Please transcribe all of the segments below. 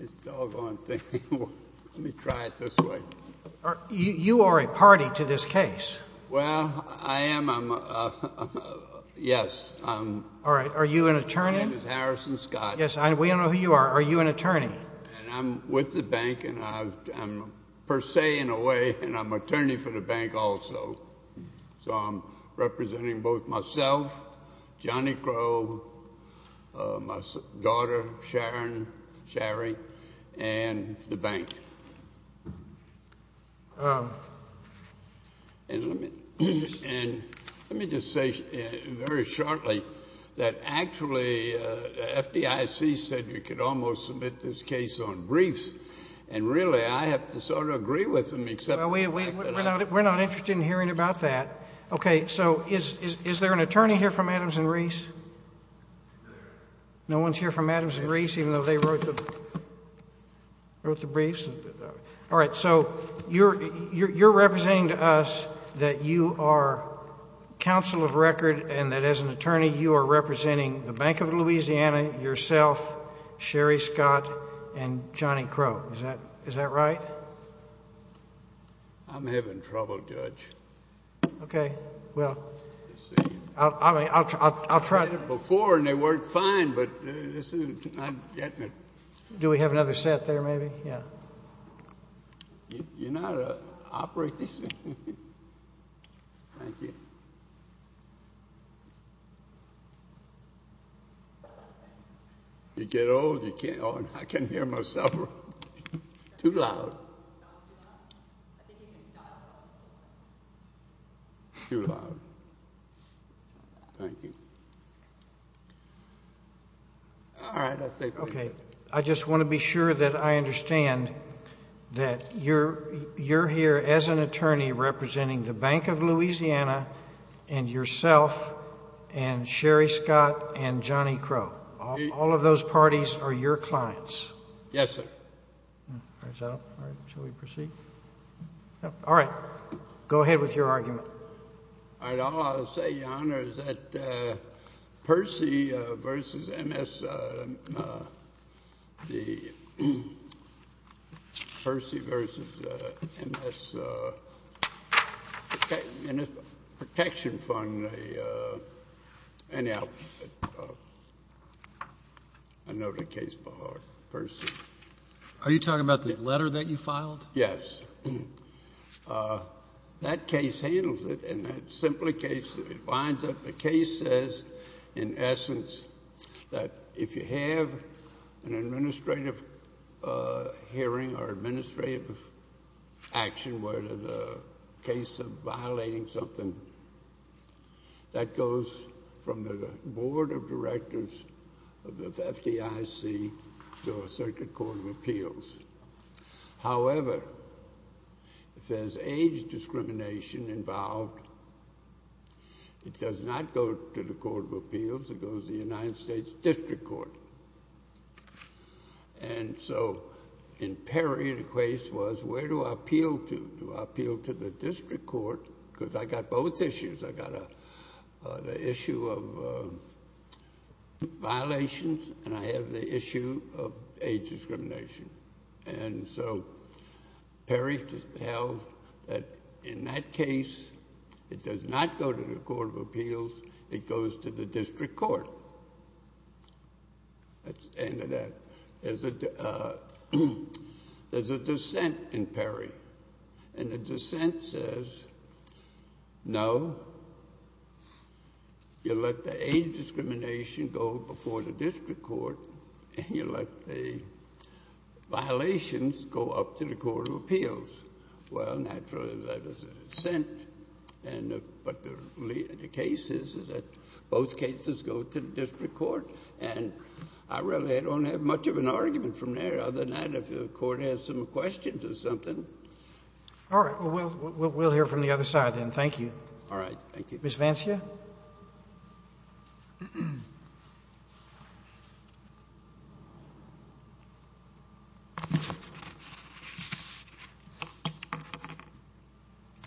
It's all gone. Let me try it this way. You are a party to this case. Well, I am. Yes. All right. Are you an attorney? My name is Harrison Scott. Yes. We don't know who you are. Are you an attorney? And I'm with the bank, and I'm per se, in a way, and I'm attorney for the bank also. So I'm representing both myself, Johnny Crow, my daughter, Sharon, Shari, and the bank. And let me just say very shortly that actually the FDIC said we could almost submit this case on briefs. And really, I have to sort of agree with them, except for the fact that I— We're not interested in hearing about that. Okay. So is there an attorney here from Adams & Reese? No one's here from Adams & Reese, even though they wrote the briefs? All right. So you're representing to us that you are counsel of record and that as an attorney you are representing the Bank of Louisiana, yourself, Shari Scott, and Johnny Crow. Is that right? I'm having trouble, Judge. Okay. Well, I mean, I'll try— They did it before, and they worked fine, but this is not getting it. Do we have another set there, maybe? Yeah. You know how to operate this thing? Thank you. Thank you. You get old, you can't—oh, I can't hear myself. Too loud. Too loud. Thank you. All right. I think we're good. All right. All right. Go ahead with your argument. All right. All I'll say, Your Honor, is that Percy v. M.S.—Percy v. M.S. Protection Fund—anyhow, I know the case by heart. Percy. Are you talking about the letter that you filed? Yes. That case handles it, and that's simply the case that it binds up. The case says, in essence, that if you have an administrative hearing or administrative action, whether the case of violating something, that goes from the board of directors of the FDIC to a circuit court of appeals. However, if there's age discrimination involved, it does not go to the court of appeals. It goes to the United States District Court. And so in Perry, the case was, where do I appeal to? Do I appeal to the district court? Because I got both issues. I got the issue of violations, and I have the issue of age discrimination. And so Perry held that in that case, it does not go to the court of appeals. It goes to the district court. That's the end of that. There's a dissent in Perry, and the dissent says, no, you let the age discrimination go before the district court, and you let the violations go up to the court of appeals. Well, naturally, that is a dissent. But the case is that both cases go to the district court. And I really don't have much of an argument from there other than that if the Court has some questions or something. All right. Well, we'll hear from the other side then. Thank you. Thank you. Ms. Vancia? Ms. Vancia?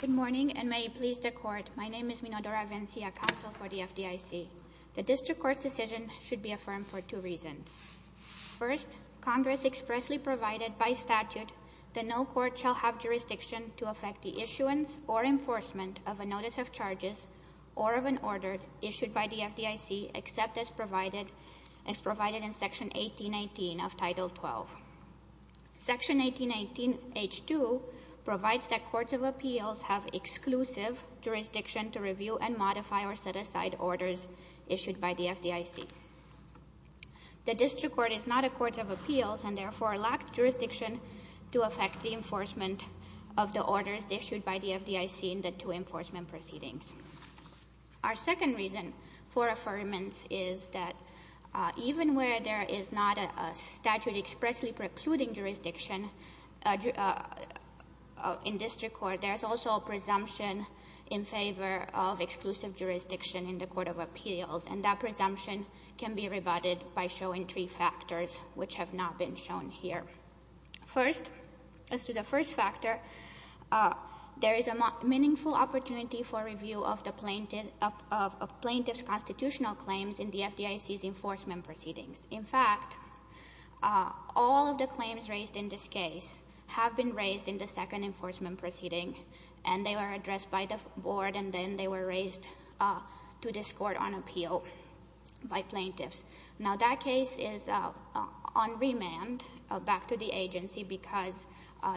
Good morning, and may it please the Court. My name is Minodora Vancia, counsel for the FDIC. The district court's decision should be affirmed for two reasons. First, Congress expressly provided by statute that no court shall have jurisdiction to affect the issuance or enforcement of a notice of charges or of an order issued by the FDIC, except as provided in Section 1818 of Title 12. Section 1818H2 provides that courts of appeals have exclusive jurisdiction to review and modify or set aside orders issued by the FDIC. The district court is not a court of appeals and, therefore, lacks jurisdiction to affect the enforcement of the orders issued by the FDIC in the two enforcement proceedings. Our second reason for affirmance is that even where there is not a statute expressly precluding jurisdiction in district court, there is also a presumption in favor of exclusive jurisdiction in the court of appeals, and that presumption can be rebutted by showing three factors, which have not been shown here. First, as to the first factor, there is a meaningful opportunity for review of the plaintiff's constitutional claims in the FDIC's enforcement proceedings. In fact, all of the claims raised in this case have been raised in the second enforcement proceeding, and they were addressed by the board, and then they were raised to this court on appeal by plaintiffs. Now, that case is on remand back to the agency because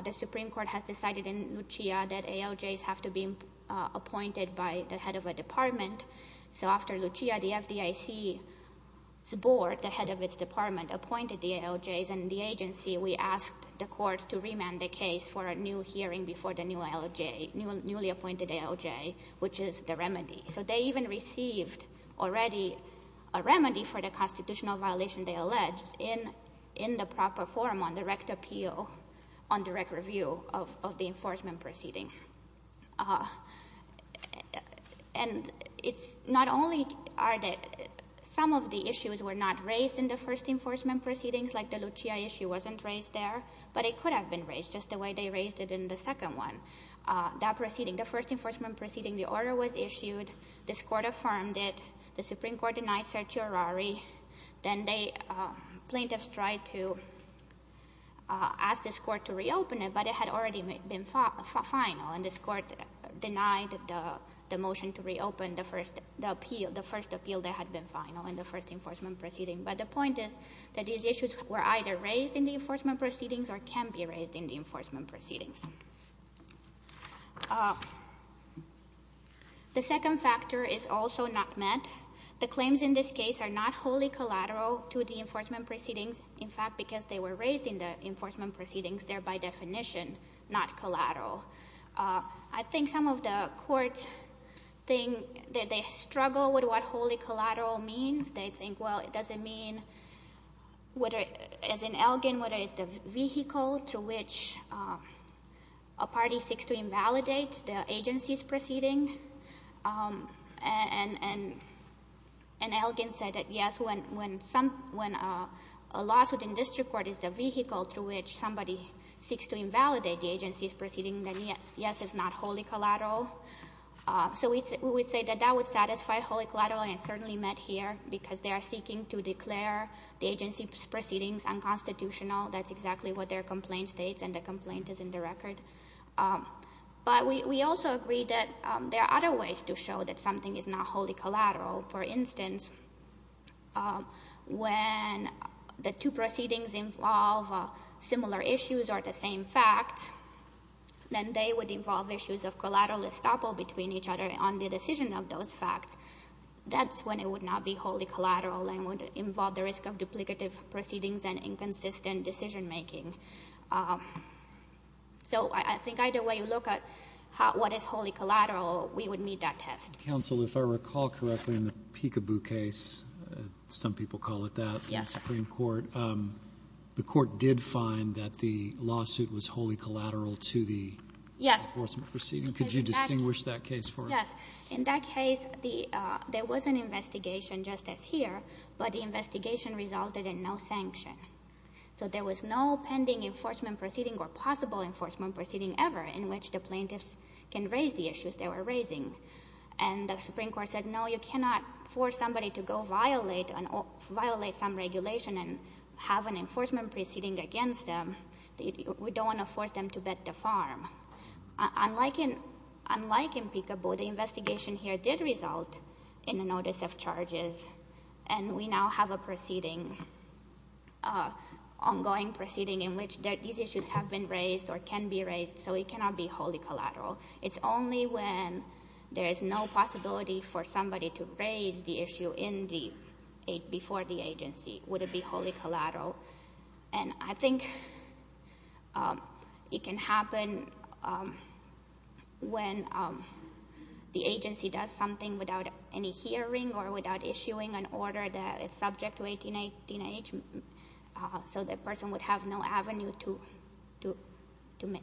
the Supreme Court has decided in Lucia that ALJs have to be appointed by the head of a department. So after Lucia, the FDIC's board, the head of its department, appointed the ALJs, and the agency, we asked the court to remand the case for a new hearing before the new ALJ, newly appointed ALJ, which is the remedy. So they even received already a remedy for the constitutional violation they alleged in the proper form on direct appeal, on direct review of the enforcement proceeding. And it's not only that some of the issues were not raised in the first enforcement proceedings, like the Lucia issue wasn't raised there, but it could have been raised just the way they raised it in the second one. That proceeding, the first enforcement proceeding, the order was issued, this court affirmed it, the Supreme Court denied certiorari, then the plaintiffs tried to ask this court to reopen it, but it had already been final, and this court denied the motion to reopen the first appeal that had been final in the first enforcement proceeding. But the point is that these issues were either raised in the enforcement proceedings or can be raised in the enforcement proceedings. The second factor is also not met. The claims in this case are not wholly collateral to the enforcement proceedings. In fact, because they were raised in the enforcement proceedings, they're by definition not collateral. I think some of the courts think that they struggle with what wholly collateral means. They think, well, it doesn't mean, as in Elgin, whether it's the vehicle to which a party seeks to invalidate the agency's proceeding. And Elgin said that, yes, when a lawsuit in district court is the vehicle to which somebody seeks to invalidate the agency's proceeding, then yes, it's not wholly collateral. So we would say that that would satisfy wholly collateral, and it's certainly met here, because they are seeking to declare the agency's proceedings unconstitutional. That's exactly what their complaint states, and the complaint is in the record. But we also agree that there are other ways to show that something is not wholly collateral. For instance, when the two proceedings involve similar issues or the same facts, then they would involve issues of collateral estoppel between each other on the decision of those facts. That's when it would not be wholly collateral and would involve the risk of duplicative proceedings and inconsistent decision-making. So I think either way you look at what is wholly collateral, we would meet that test. Counsel, if I recall correctly, in the Peekaboo case, some people call it that in the Supreme Court, the court did find that the lawsuit was wholly collateral to the enforcement proceeding. Could you distinguish that case for us? Yes. In that case, there was an investigation, just as here, but the investigation resulted in no sanction. So there was no pending enforcement proceeding or possible enforcement proceeding ever in which the plaintiffs can raise the issues they were raising. And the Supreme Court said, no, you cannot force somebody to go violate some regulation and have an enforcement proceeding against them. We don't want to force them to bet the farm. Unlike in Peekaboo, the investigation here did result in a notice of charges, and we now have an ongoing proceeding in which these issues have been raised or can be raised, so it cannot be wholly collateral. It's only when there is no possibility for somebody to raise the issue before the agency would it be wholly collateral. And I think it can happen when the agency does something without any hearing or without issuing an order that is subject to 1818H, so the person would have no avenue to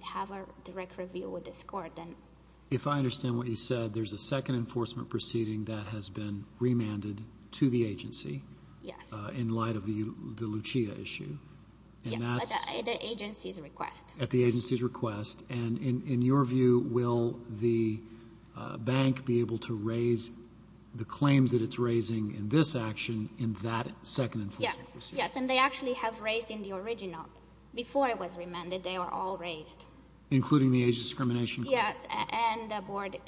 have a direct review with this court. If I understand what you said, there's a second enforcement proceeding that has been remanded to the agency. Yes. In light of the Lucia issue. Yes, at the agency's request. At the agency's request. And in your view, will the bank be able to raise the claims that it's raising in this action in that second enforcement proceeding? Yes, and they actually have raised in the original. Before it was remanded, they were all raised. Including the age discrimination claim? Yes, and the board,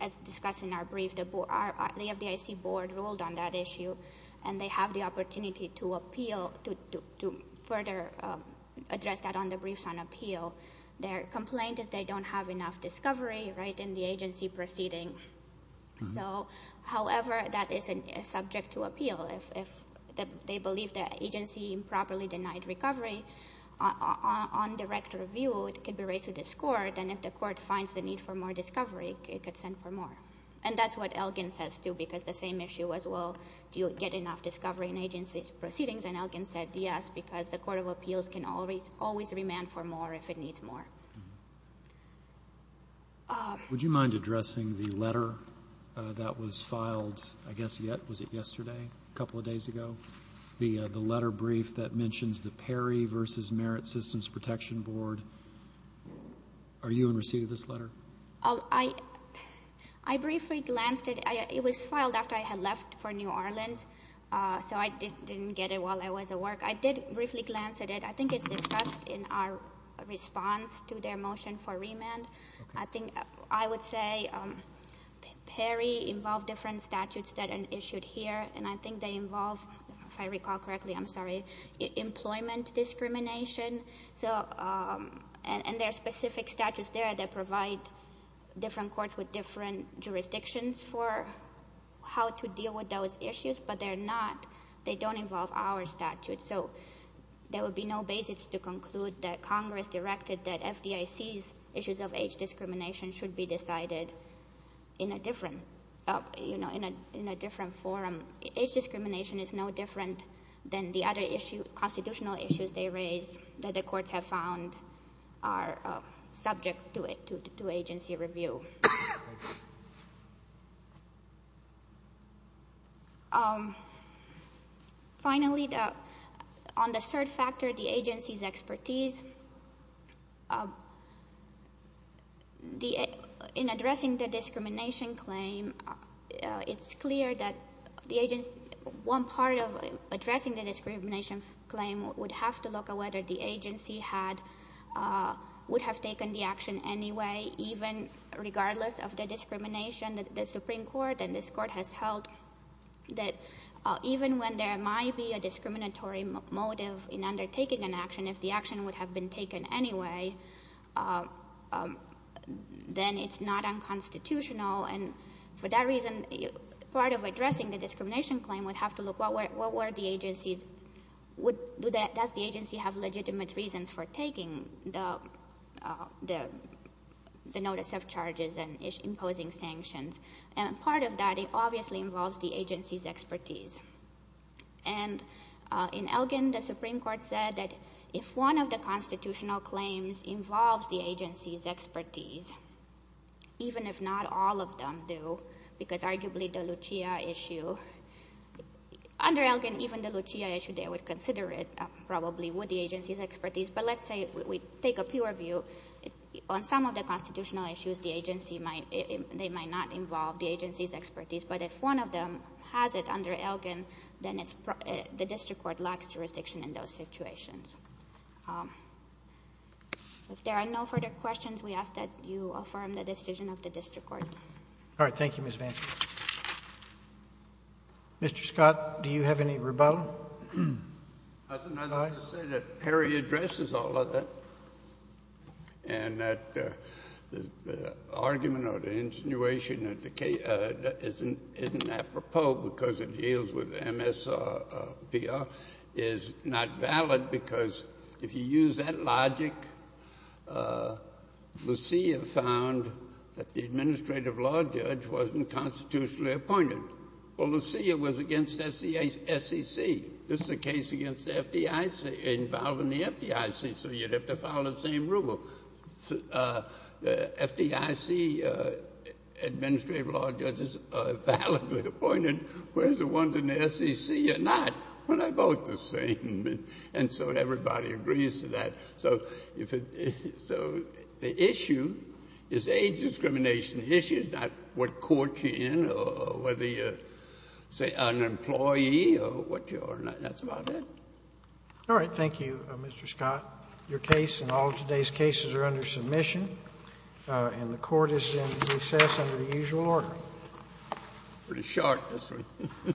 as discussed in our brief, the FDIC board ruled on that issue, and they have the opportunity to appeal, to further address that on the briefs on appeal. Their complaint is they don't have enough discovery, right, in the agency proceeding. So, however, that is subject to appeal. If they believe the agency improperly denied recovery on direct review, it could be raised with this court, and if the court finds the need for more discovery, it could send for more. And that's what Elgin says, too, because the same issue as well. Do you get enough discovery in agency proceedings? And Elgin said, yes, because the Court of Appeals can always remand for more if it needs more. Would you mind addressing the letter that was filed, I guess, was it yesterday, a couple of days ago? The letter brief that mentions the Perry v. Merit Systems Protection Board. Are you in receipt of this letter? I briefly glanced at it. It was filed after I had left for New Orleans, so I didn't get it while I was at work. I did briefly glance at it. I think it's discussed in our response to their motion for remand. I think I would say Perry involved different statutes that are issued here, and I think they involve, if I recall correctly, I'm sorry, employment discrimination. And there are specific statutes there that provide different courts with different jurisdictions for how to deal with those issues, but they don't involve our statute. So there would be no basis to conclude that Congress directed that FDIC's issues of age discrimination should be decided in a different forum. Age discrimination is no different than the other constitutional issues they raise that the courts have found are subject to agency review. Finally, on the third factor, the agency's expertise. In addressing the discrimination claim, it's clear that one part of addressing the discrimination claim would have to look at whether the agency would have taken the action anyway, even regardless of the discrimination that the Supreme Court and this Court has held, that even when there might be a discriminatory motive in undertaking an action, if the action would have been taken anyway, then it's not unconstitutional. And for that reason, part of addressing the discrimination claim would have to look, does the agency have legitimate reasons for taking the notice of charges and imposing sanctions? And part of that obviously involves the agency's expertise. And in Elgin, the Supreme Court said that if one of the constitutional claims involves the agency's expertise, even if not all of them do, because arguably the Lucia issue, under Elgin, even the Lucia issue, they would consider it probably would the agency's expertise. But let's say we take a pure view. On some of the constitutional issues, they might not involve the agency's expertise. But if one of them has it under Elgin, then the district court lacks jurisdiction in those situations. If there are no further questions, we ask that you affirm the decision of the district court. All right. Thank you, Ms. Vance. Mr. Scott, do you have any rebuttal? I'd like to say that Perry addresses all of that, and that the argument or the insinuation that isn't apropos because it deals with MSPR is not valid because if you use that logic, Lucia found that the administrative law judge wasn't constitutionally appointed. Well, Lucia was against SEC. This is a case involving the FDIC, so you'd have to follow the same rule. The FDIC administrative law judges are validly appointed, whereas the ones in the SEC are not. Well, they're both the same. And so everybody agrees to that. So the issue is age discrimination issues, not what court you're in or whether you're, say, an employee or what you are. And that's about it. All right. Thank you, Mr. Scott. Your case and all of today's cases are under submission, and the Court is in recess under the usual order. Pretty short, this one.